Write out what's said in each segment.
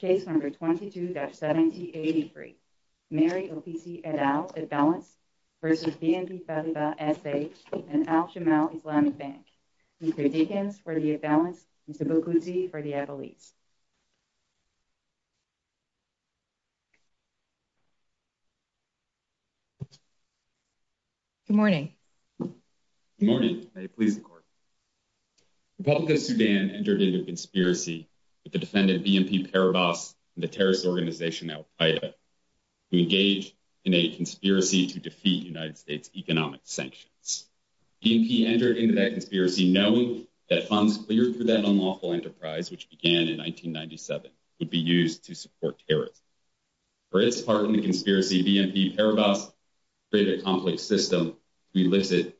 and Al-Jamal Islamic Bank, Mr. Deakins for the imbalance, Mr. Bukuzi for the ebullience. Good morning. Good morning, may it please the court. Republic of Sudan entered into a conspiracy with the defendant BNP Paribas and the terrorist organization Al-Qaeda to engage in a conspiracy to defeat United States economic sanctions. BNP entered into that conspiracy knowing that funds cleared for that unlawful enterprise, which began in 1997, would be used to support terrorists. For its part in the conspiracy, BNP Paribas created a complex system to elicit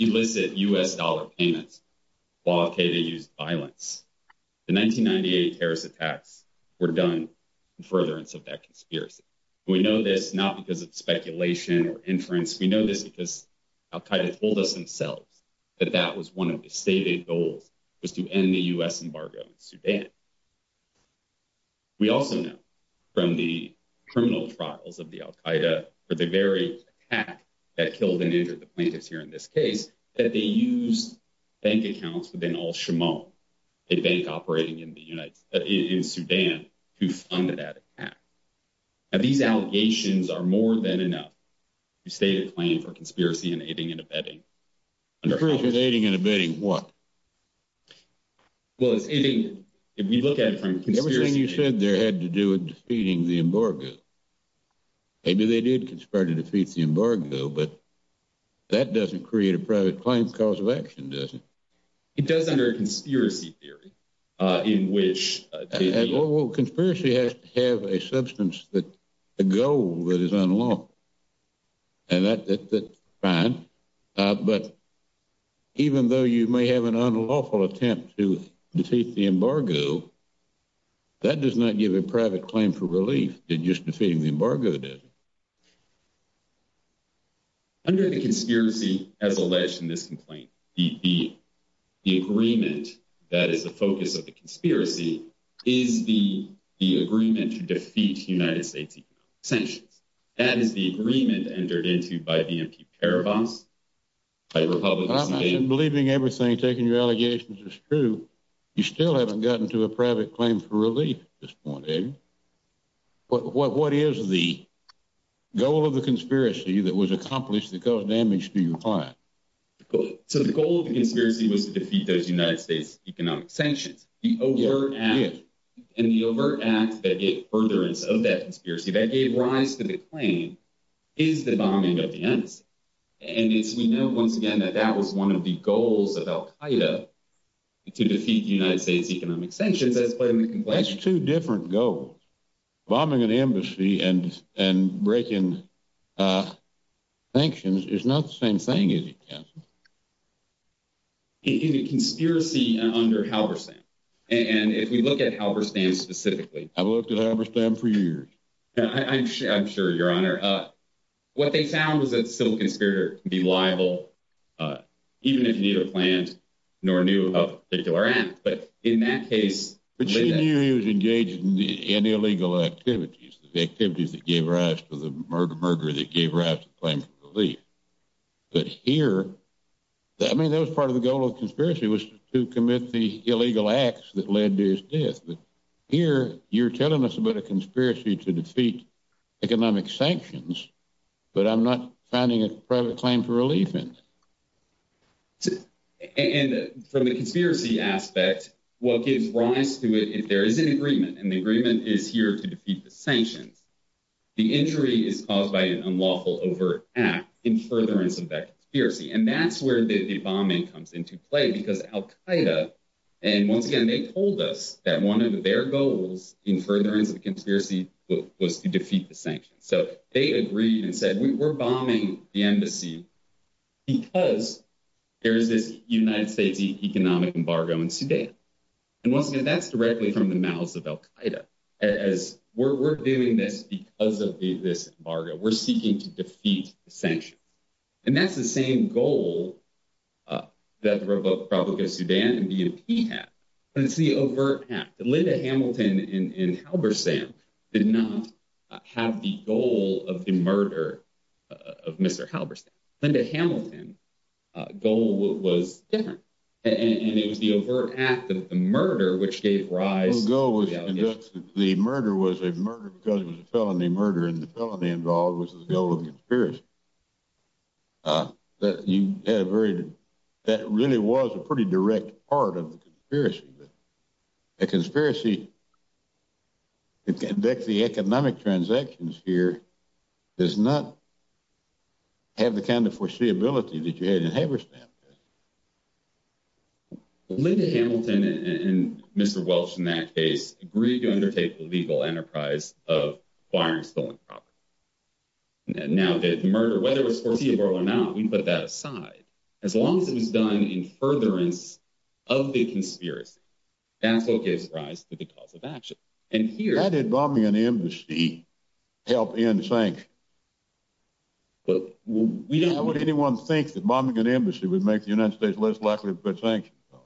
U.S. dollar payments while Al-Qaeda used violence. The 1998 terrorist attacks were done in furtherance of that conspiracy. We know this not because of speculation or inference. We know this because Al-Qaeda told us themselves that that was criminal trials of the Al-Qaeda for the very attack that killed and injured the plaintiffs here in this case, that they used bank accounts within Al-Jamal, a bank operating in the United in Sudan, who funded that attack. Now these allegations are more than enough to state a claim for conspiracy in aiding and abetting. Conspiracy in aiding and abetting what? Well, it's anything if we look at it from conspiracy... Everything you said there had to do with defeating the embargo. Maybe they did conspire to defeat the embargo, but that doesn't create a private claim cause of action, does it? It does under a conspiracy theory, uh, in which... Well, conspiracy has to have a substance that, a goal that is unlawful. And that, that's fine. But even though you may have an unlawful attempt to defeat the embargo, that does not give a private claim for relief than just defeating the embargo does. Under the conspiracy, as alleged in this complaint, the agreement that is the focus of the conspiracy is the agreement to defeat United States economic sanctions. That is the agreement entered into by the MP Paribas. I'm not believing everything taking your allegations is true. You still haven't gotten to a private claim for relief at this point, have you? But what is the goal of the conspiracy that was accomplished that caused damage to your client? So the goal of the conspiracy was to defeat those United States economic sanctions. The overt act, and the overt act that gave furtherance of that conspiracy, that gave rise to the claim, is the bombing of the embassy. And it's, we know, once again, that that was one of the goals of Al-Qaeda, to defeat the United States economic sanctions, as played in the complaint. That's two different goals. Bombing an embassy and, and breaking, uh, sanctions is not the same thing, is it, Councilman? In a conspiracy under Halberstam. And if we look at Halberstam specifically... I've looked at Halberstam for years. I'm sure, Your Honor. What they found was that a civil conspirator can be liable, even if he neither planned nor knew of a particular act. But in that case... But she knew he was engaged in illegal activities, the activities that gave rise to the murder, murder that gave rise to the claim for relief. But here, I mean, that was part of the goal of death. But here, you're telling us about a conspiracy to defeat economic sanctions, but I'm not finding a private claim for relief in it. And from the conspiracy aspect, what gives rise to it, if there is an agreement, and the agreement is here to defeat the sanctions, the injury is caused by an unlawful overt act in furtherance of that conspiracy. And that's where the bombing comes into play, because Al-Qaeda, and once again, they told us that one of their goals in furtherance of the conspiracy was to defeat the sanctions. So they agreed and said, we're bombing the embassy because there is this United States economic embargo in Sudan. And once again, that's directly from the mouths of Al-Qaeda, as we're doing this because of this embargo, we're seeking to defeat the sanctions. And that's the same goal that the Republic of Sudan and BNP have, but it's the overt act. Linda Hamilton in Halberstam did not have the goal of the murder of Mr. Halberstam. Linda Hamilton's goal was different, and it was the overt act of the murder which gave rise to the allegation. The murder was a murder because it was a felony murder, and the felony involved was the goal of the conspiracy. That really was a pretty direct part of the conspiracy, but a conspiracy to conduct the economic transactions here does not have the kind of foreseeability that you had in Halberstam. Linda Hamilton and Mr. Welch in that case agreed to undertake the legal enterprise of acquiring stolen property. Now, the murder, whether it was foreseeable or not, we put that aside. As long as it was done in furtherance of the conspiracy, that's what gives rise to the cause of action. And here- How did bombing an embassy help end sanctions? Well, we don't- How would anyone think that bombing an embassy would make the United States less likely to put sanctions on?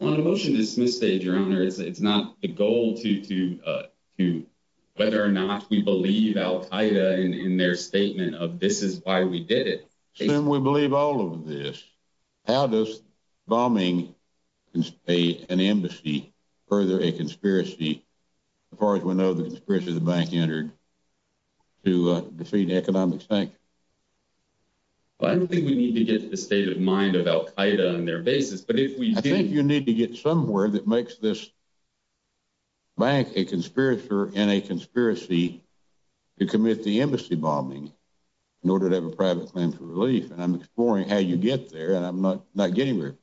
Well, the motion is misstated, Your Honor. It's not the goal to, to- whether or not we believe Al-Qaeda in their statement of this is why we did it. Assuming we believe all of this, how does bombing an embassy further a conspiracy, as far as we know, the conspiracy the bank entered to defeat economic sanctions? Well, I don't think we need to get the state of mind of Al-Qaeda on their basis, but if we- I think you need to get somewhere that makes this bank a conspirator in a conspiracy to commit the embassy bombing in order to have a private claim for relief. And I'm exploring how you get there, and I'm not getting there.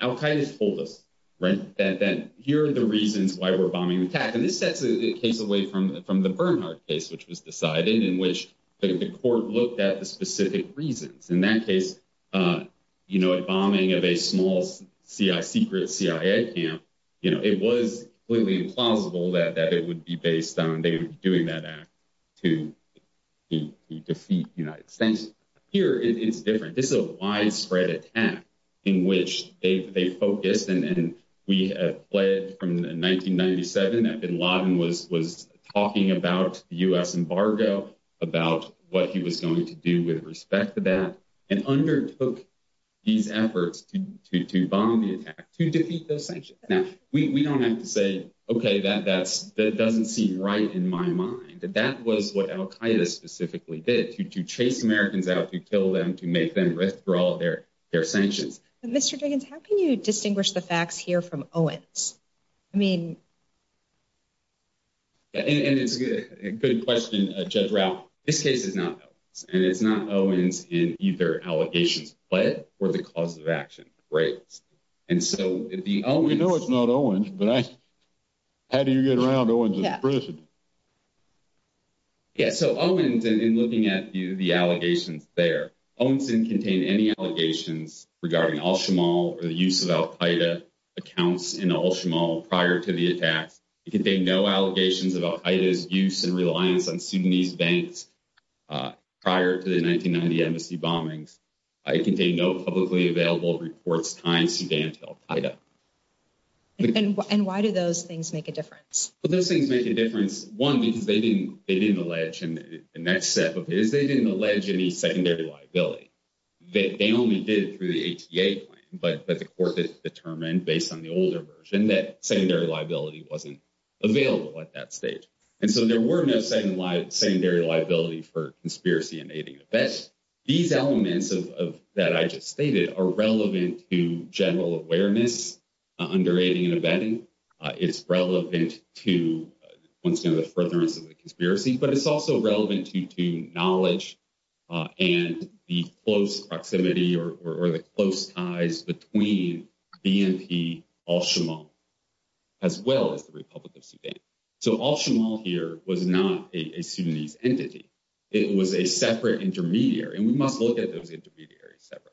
Al-Qaeda's told us, right, that here are the reasons why we're bombing an attack. And this sets the case away from the Bernhardt case, which was decided, in which the court looked at the specific reasons. In that case, you know, a bombing of a small secret CIA camp, you know, it was completely implausible that it would be based on them doing that act to defeat the United States. Here, it's different. This is a widespread attack in which they focus, and we have pled from 1997 that bin Laden was talking about the U.S. embargo, about what he was going to do with respect to that, and undertook these efforts to bomb the attack, to defeat those sanctions. Now, we don't have to say, okay, that doesn't seem right in my mind. That was what Al-Qaeda specifically did, to chase Americans out, to kill them, to make them withdraw their sanctions. Mr. Diggins, how can you distinguish the facts here from Owens? I mean... Yeah, and it's a good question, Judge Rauh. This case is not Owens, and it's not Owens in either allegations pled or the cause of action raised. And so, if the Owens... We know it's not Owens, but how do you get around Owens in prison? Yeah, so Owens, in looking at the allegations there, Owens didn't contain any allegations regarding Al-Shamal or the use of Al-Qaeda accounts in Al-Shamal prior to the attacks. It contained no allegations of Al-Qaeda's use and reliance on Sudanese banks prior to the 1990 embassy bombings. It contained no publicly available reports behind Sudan to Al-Qaeda. And why do those things make a difference? Well, those things make a difference, one, because they didn't allege, and the next step of it is they didn't allege any secondary liability. They only did it through the ATA plan, but the court determined, based on the older version, that secondary liability wasn't available at that stage. And so, there were no secondary liability for conspiracy in aiding and abetting. These elements that I just stated are relevant to general awareness under aiding and abetting. It's relevant to, once again, the furtherance of the conspiracy, but it's also relevant to knowledge and the close proximity or the close ties between BNP Al-Shamal, as well as the Republic of Sudan. So, Al-Shamal here was not a Sudanese entity. It was a separate intermediary, and we must look at those intermediaries separately.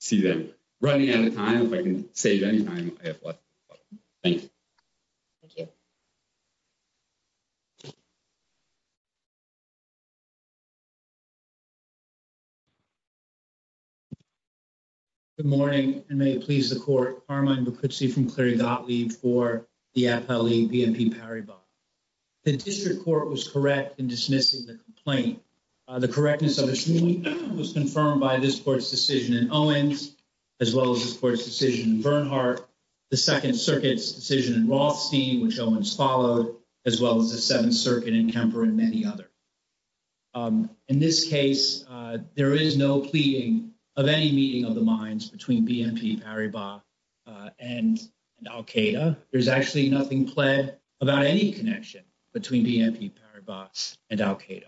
See, I'm running out of time. If I can save any time, I have lots of time. Thank you. Good morning, and may it please the court. Harman Bakritsi from Clary Gottlieb for the AFL-E BNP Paribas. The district court was correct in dismissing the complaint. The correctness of its ruling was confirmed by this court's decision in Owens, as well as this court's decision in Bernhardt, the Second Circuit's decision in Rothstein, which Owens followed, as well as the Seventh Circuit in Kemper and many others. In this case, there is no pleading of any meeting of the minds between BNP Paribas and Al-Qaeda. There's actually nothing pled about any connection between BNP Paribas and Al-Qaeda.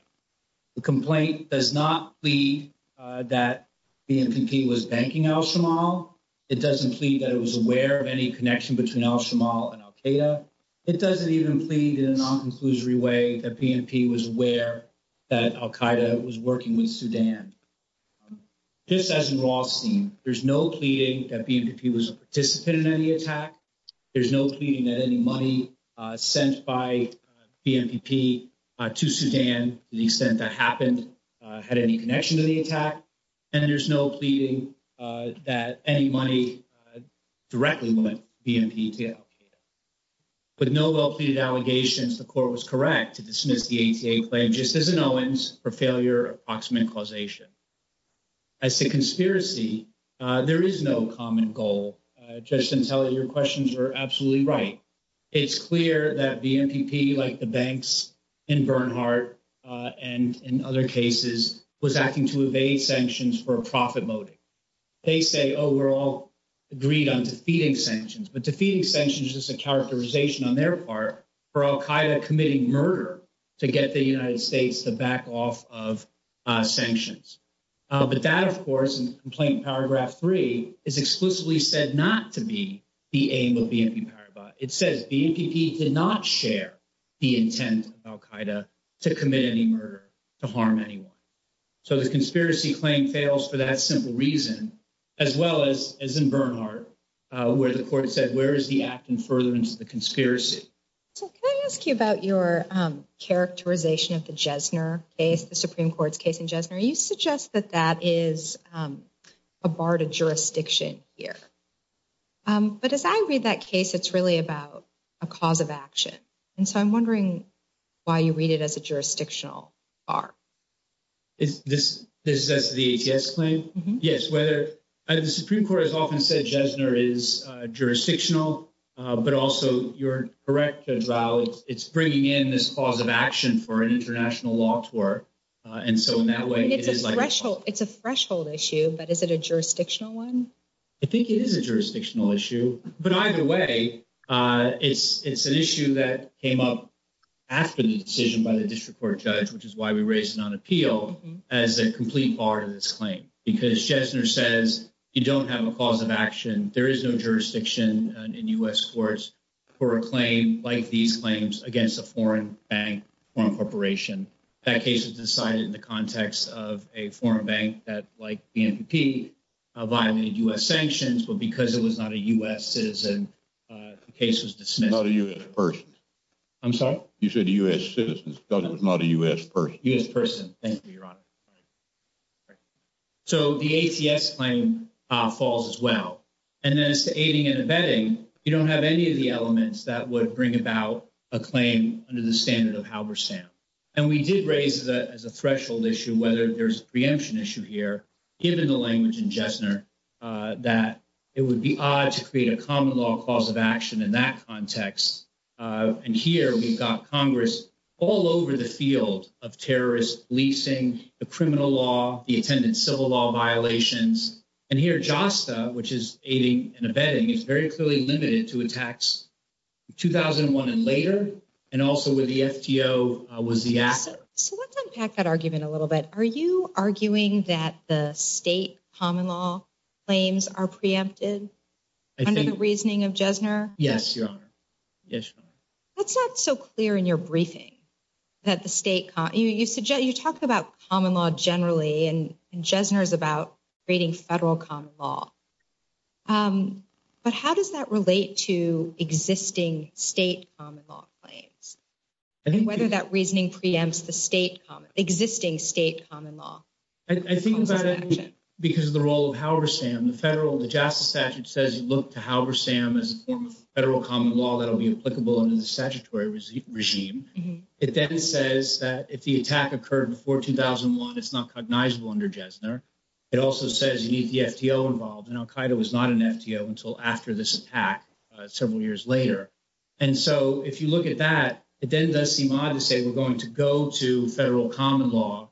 The complaint does not plead that BNP Paribas was banking Al-Shamal. It doesn't plead that it was aware of any connection between Al-Shamal and Al-Qaeda. It doesn't even plead in a non-conclusory way that BNP Paribas was aware that Al-Qaeda was working with Sudan. Just as in Rothstein, there's no pleading that BNP Paribas was a participant in any attack. There's no pleading that any money sent by BNP to Sudan, to the extent that happened, had any connection to the attack. And there's no pleading that any money directly went to BNP to Al-Qaeda. With no well-pleaded allegations, the court was correct to dismiss the ATA claim, just as in Owens, for failure of approximate causation. As to conspiracy, there is no common goal. Judge Santella, your questions are absolutely right. It's clear that BNP, like the banks in Bernhardt and in other cases, was acting to evade sanctions for a profit motive. They say, oh, we're all agreed on defeating sanctions. But defeating sanctions is a characterization on their part for Al-Qaeda committing murder to get the United States out of Syria. So the conspiracy claim in paragraph three is explicitly said not to be the aim of BNP Paribas. It says BNP did not share the intent of Al-Qaeda to commit any murder, to harm anyone. So the conspiracy claim fails for that simple reason, as well as in Bernhardt, where the court said, where is the act in furtherance of the conspiracy? So can I ask you about your characterization of the Jesner case, the Supreme Court's case in a barred jurisdiction here. But as I read that case, it's really about a cause of action. And so I'm wondering why you read it as a jurisdictional bar. Is this the ATS claim? Yes. The Supreme Court has often said Jesner is jurisdictional, but also you're correct, Judge Rao, it's bringing in this cause of action for an international law court. And so in that way, it's a threshold. It's a threshold issue. But is it a jurisdictional one? I think it is a jurisdictional issue. But either way, it's an issue that came up after the decision by the district court judge, which is why we raised it on appeal as a complete part of this claim, because Jesner says you don't have a cause of action. There is no jurisdiction in U.S. courts for a claim like these claims against a foreign bank or a corporation. That case was decided in the context of a foreign bank that, like the NPP, violated U.S. sanctions. But because it was not a U.S. citizen, the case was dismissed. Not a U.S. person. I'm sorry? You said a U.S. citizen, because it was not a U.S. person. U.S. person. Thank you, Your Honor. So the ATS claim falls as well. And then as to aiding and abetting, you don't have any of the elements that would bring about a claim under the standard of Halberstam. And we did raise that as a threshold issue, whether there's a preemption issue here, given the language in Jesner, that it would be odd to create a common law cause of action in that context. And here we've got Congress all over the field of terrorist leasing, the criminal law, the attendant civil law violations. And here JASTA, which is aiding and abetting, is very the actor. So let's unpack that argument a little bit. Are you arguing that the state common law claims are preempted under the reasoning of Jesner? Yes, Your Honor. Yes, Your Honor. That's not so clear in your briefing. You talk about common law generally, and Jesner is about creating federal common law. But how does that relate to existing state common law claims? And whether that reasoning preempts the existing state common law? I think about it because of the role of Halberstam. The federal, the JASTA statute says you look to Halberstam as a form of federal common law that'll be applicable under the statutory regime. It then says that if the attack occurred before 2001, it's not cognizable under Jesner. It also says you need the FTO involved. And Al-Qaeda was not an FTO until after this attack several years later. And so if you look at that, it then does seem odd to say we're going to go to federal common law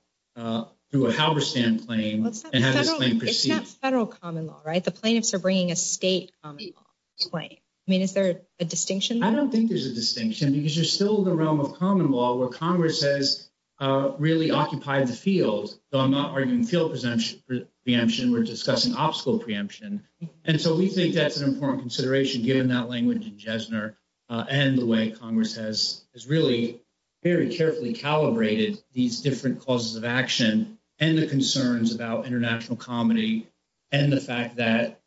through a Halberstam claim and have this claim proceed. It's not federal common law, right? The plaintiffs are bringing a state common law claim. I mean, is there a distinction? I don't think there's a distinction because you're still in the realm of common law where Congress has really occupied the field. So I'm not arguing field preemption. We're discussing obstacle preemption. And so we think that's an important consideration given that language in Jesner and the way Congress has really very carefully calibrated these different causes of action and the concerns about international comity and the fact that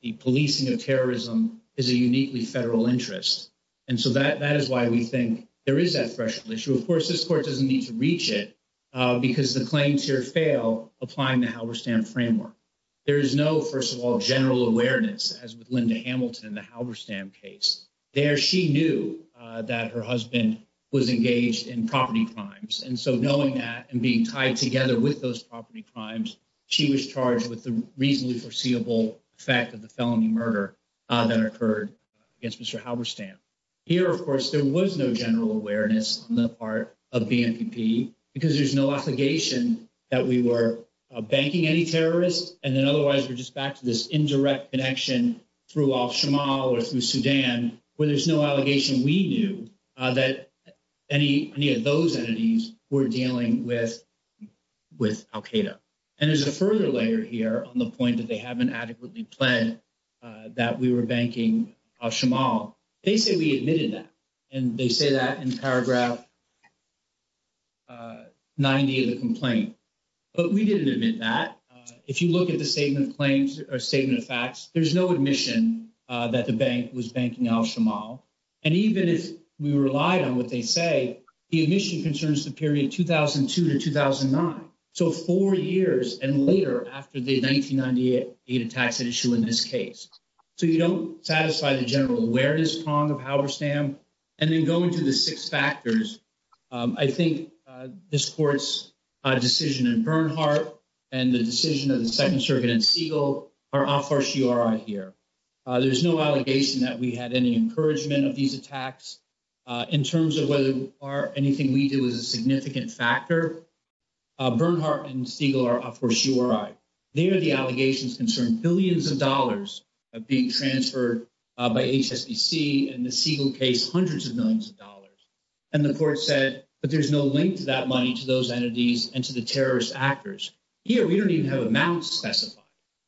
the policing of terrorism is a uniquely federal interest. And so that is why we think there is that threshold issue. Of course, this court doesn't need to reach it because the claims here fail applying the Halberstam framework. There is no, first of all, general awareness as with Linda Hamilton, the Halberstam case. There she knew that her husband was engaged in property crimes. And so knowing that and being tied together with those property crimes, she was charged with the reasonably foreseeable effect of the felony murder that occurred against Mr. Halberstam. Here, of course, there was no general awareness on the part of BMPP because there's no obligation that we were banking any terrorists. And then otherwise, we're just back to this indirect connection through Al-Shamal or through Sudan where there's no allegation we knew that any of those entities were dealing with Al-Qaeda. And there's a further layer here on the point that they haven't adequately planned that we were banking Al-Shamal. They say we admitted that. And they say that in paragraph 90 of the complaint. But we didn't admit that. If you look at the statement of claims or statement of facts, there's no admission that the bank was banking Al-Shamal. And even if we relied on what they say, the admission concerns the period 2002 to 2009. So four years and later after the 1998 data tax issue in this case. So you don't satisfy the general awareness prong of Halberstam. And then going to the six factors, I think this court's decision in Bernhardt and the decision of the Second Circuit in Siegel are a fortiori here. There's no allegation that we had any encouragement of these attacks. In terms of whether or anything we do is a significant factor, Bernhardt and Siegel are a fortiori. There, the allegations concern billions of dollars of being transferred by HSBC, in the Siegel case, hundreds of millions of dollars. And the court said, but there's no link to that money to those entities and to the terrorist actors. Here, we don't even have amounts specified.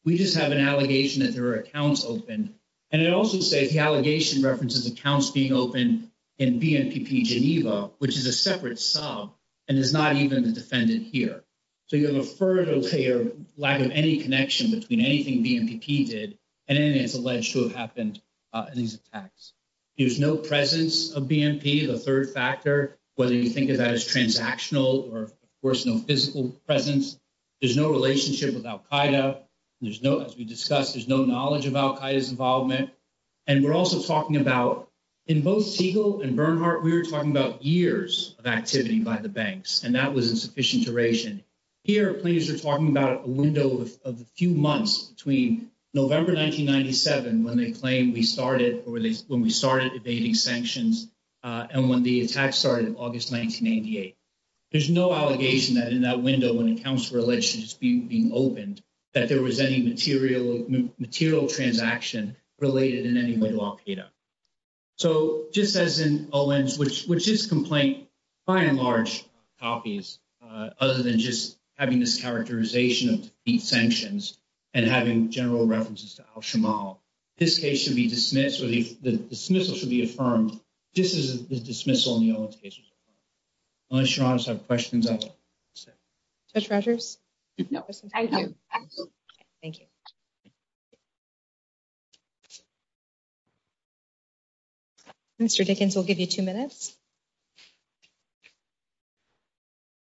We just have an allegation that there are accounts open. And it also says the allegation references accounts being open in BNPP Geneva, which is a separate sub and is not even the defendant here. So you have a further layer, lack of any connection between anything BNPP did and anything that's alleged to have happened in these attacks. There's no presence of BNP, the third factor, whether you think of that as transactional or, of course, no physical presence. There's no relationship with Al-Qaeda. As we discussed, there's no knowledge of Al-Qaeda's involvement. And we're also talking about, in both Siegel and Bernhardt, we were talking about years of activity by the banks, and that was insufficient duration. Here, plaintiffs are talking about a window of a few months between November 1997, when they claim we started, or when we started evading sanctions, and when the attack started in August 1998. There's no allegation that in that window, when accounts were alleged to just being opened, that there was any material transaction related in any way to Al-Qaeda. So just as in O-Ns, which is complaint, by and large copies, other than just having this characterization of sanctions and having general references to Al-Shamal, this case should be dismissed, or the dismissal should be affirmed. This is the dismissal in the O-Ns case. Unless you're honest, I have questions. Judge Rogers? Thank you. Mr. Dickens, we'll give you two minutes.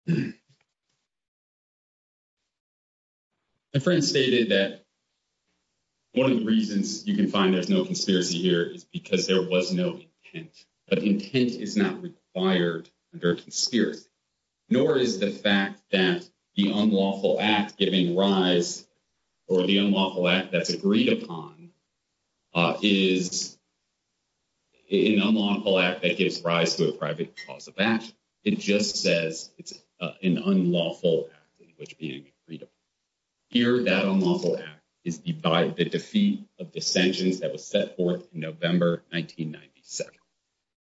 My friend stated that one of the reasons you can find there's no conspiracy here is because there was no intent. But intent is not required under a conspiracy, nor is the fact that the unlawful act giving rise, or the unlawful act that's agreed upon, is an unlawful act that gives rise to a private cause of act. It just says it's an unlawful act, which being agreed upon. Here, that unlawful act is by the defeat of the sanctions that was set forth in November 1997.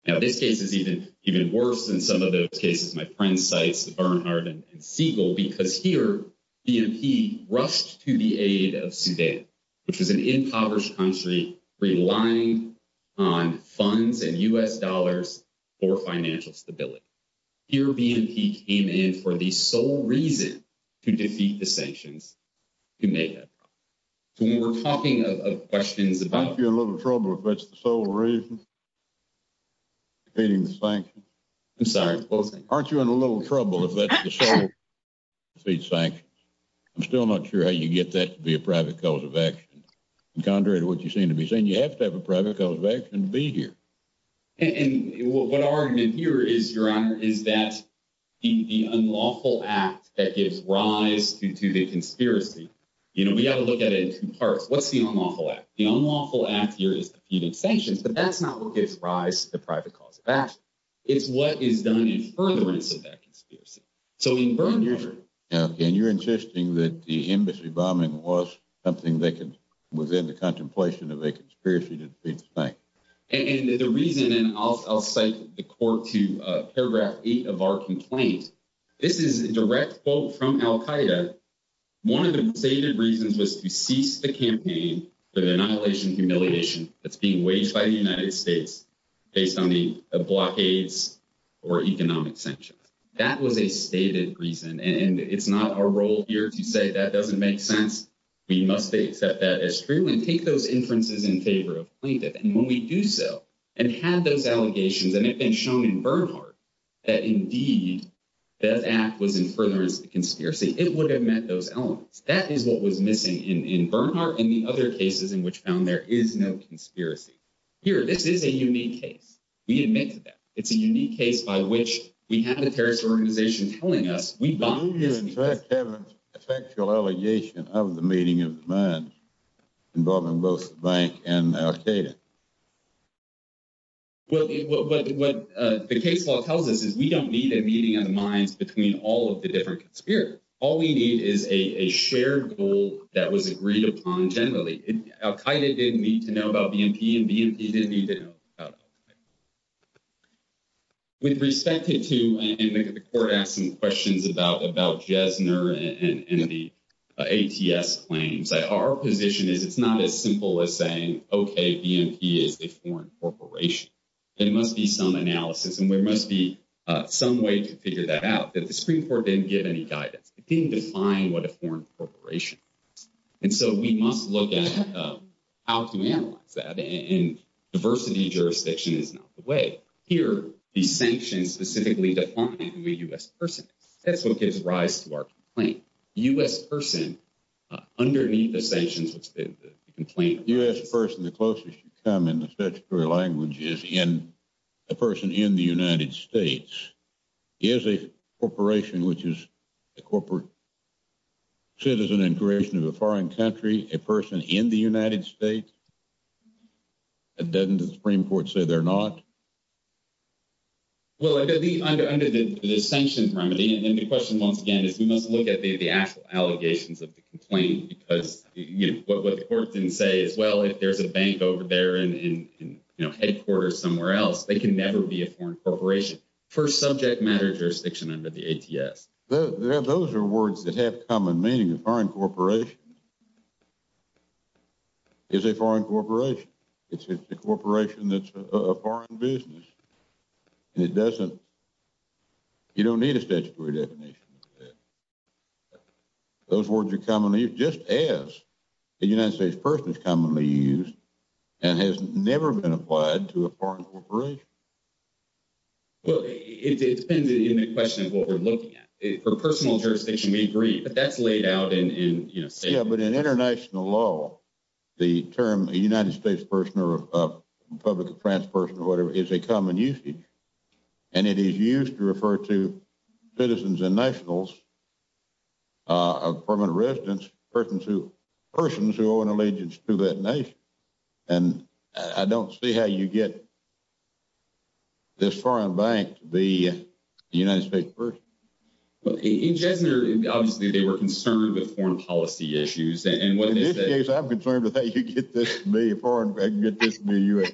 Now, this case is even worse than some of those cases my friend cites, Bernhard and Siegel, because here, BNP rushed to the aid of Sudan, which was an impoverished country, relying on funds and U.S. dollars for financial stability. Here, BNP came in for the sole reason to defeat the sanctions to make up. So, when we're talking of questions about- Aren't you in a little trouble if that's the sole reason? Defeating the sanctions? I'm sorry, what was that? Aren't you in a little trouble if that's the sole reason to defeat sanctions? I'm still not sure how you get that to be a private cause of action. Contrary to what you seem to be saying, you have to have a private cause of action to be here. And what our argument here is, your honor, is that the unlawful act that gives rise to the conspiracy, you know, we have to look at it in two parts. What's the unlawful act? The unlawful act here is defeating sanctions, but that's not what gives rise to the private cause of action. It's what is done in furtherance of that conspiracy. So, in broad measure- Okay, and you're insisting that the embassy bombing was something that was in the contemplation of a conspiracy to defeat the sanctions? And the reason, and I'll cite the court to paragraph eight of our complaint, this is a direct quote from Al-Qaeda. One of the stated reasons was to cease the campaign for the annihilation and humiliation that's being waged by the United States based on the blockades or economic sanctions. That was a stated reason, and it's not our role here to say that doesn't make sense. We must accept that as true and take those inferences in favor of plaintiff. And when we do so and have those allegations and it's been shown in Bernhardt that indeed that act was in furtherance of the conspiracy, it would have met those elements. That is what was missing in Bernhardt and the other cases in which found there is no conspiracy. Here, this is a unique case. We admit to that. It's a unique case by which we have a terrorist organization telling us we bombed- Don't you, in fact, have an effectual allegation of the meeting of the minds involving both the bank and Al-Qaeda? Well, what the case law tells us is we don't need a meeting of the minds between all of the different conspirators. All we need is a shared goal that was agreed upon generally. Al-Qaeda didn't need to know about BNP, and BNP didn't need to know about Al-Qaeda. With respect to, and the court asked some questions about Jesner and the ATS claims, our position is it's not as simple as saying, OK, BNP is a foreign corporation. There must be some analysis, and there must be some way to figure that out. The Supreme Court didn't give any how to analyze that, and diversity jurisdiction is not the way. Here, these sanctions specifically define who a U.S. person is. That's what gives rise to our complaint. U.S. person, underneath the sanctions, which the complaint- U.S. person, the closest you come in the statutory language is a person in the United States is a corporation which is a corporate citizen in creation of a foreign country, a person in the United States. Doesn't the Supreme Court say they're not? Well, under the sanctions remedy, and the question, once again, is we must look at the actual allegations of the complaint, because what the court didn't say is, well, if there's a bank over there in headquarters somewhere else, they can never be a foreign corporation. First subject matter jurisdiction under the ATS. Those are words that have common meaning. A foreign corporation is a foreign corporation. It's a corporation that's a foreign business, and it doesn't- you don't need a statutory definition. Those words are commonly used, just as a United States person is commonly used, and has never been applied to a foreign corporation. Well, it depends in the question of what we're looking at. For personal jurisdiction, we agree, but that's laid out in- Yeah, but in international law, the term a United States person or a Republic of France person or whatever is a common usage, and it is used to refer to citizens and nationals of permanent residence, persons who owe an allegiance to that nation, and I don't see how you get this foreign bank to be a United States person. Well, in Jesner, obviously, they were concerned with foreign policy issues, and what- In this case, I'm concerned with how you get this to be a foreign- get this to be a U.S.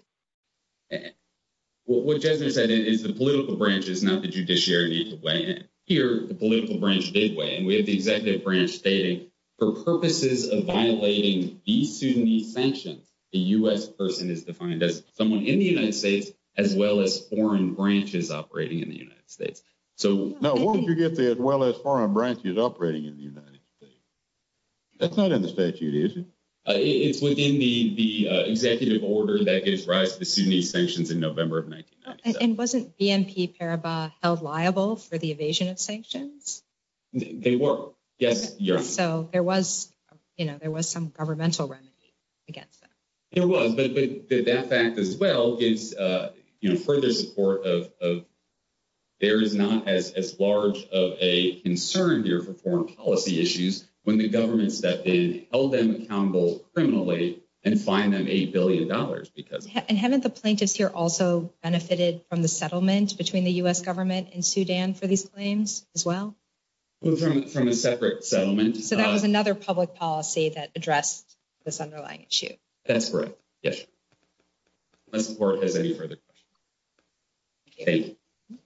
What Jesner said is the political branch is not the judiciary to weigh in. Here, the political branch did weigh in. We have the executive branch stating, for purposes of violating the Sudanese sanctions, a U.S. person is defined as someone in the United States, as well as foreign branches operating in the United States. So- No, what would you get there as well as foreign branches operating in the United States? That's not in the statute, is it? It's within the executive order that gives rise to the Sudanese sanctions in November of 1997. And wasn't BNP Paribas held liable for the evasion of sanctions? They were. Yes, you're- So, there was some governmental remedy against them. There was, but that fact as well gives further support of- there is not as large of a concern here for foreign policy issues when the government stepped in, held them accountable criminally, and fined them $8 billion because- And haven't the plaintiffs here also benefited from the settlement between the U.S. government and Sudan for these claims as well? Well, from a separate settlement. So, that was another public policy that addressed this underlying issue. That's correct. Yes. Unless the court has any further questions. Thank you.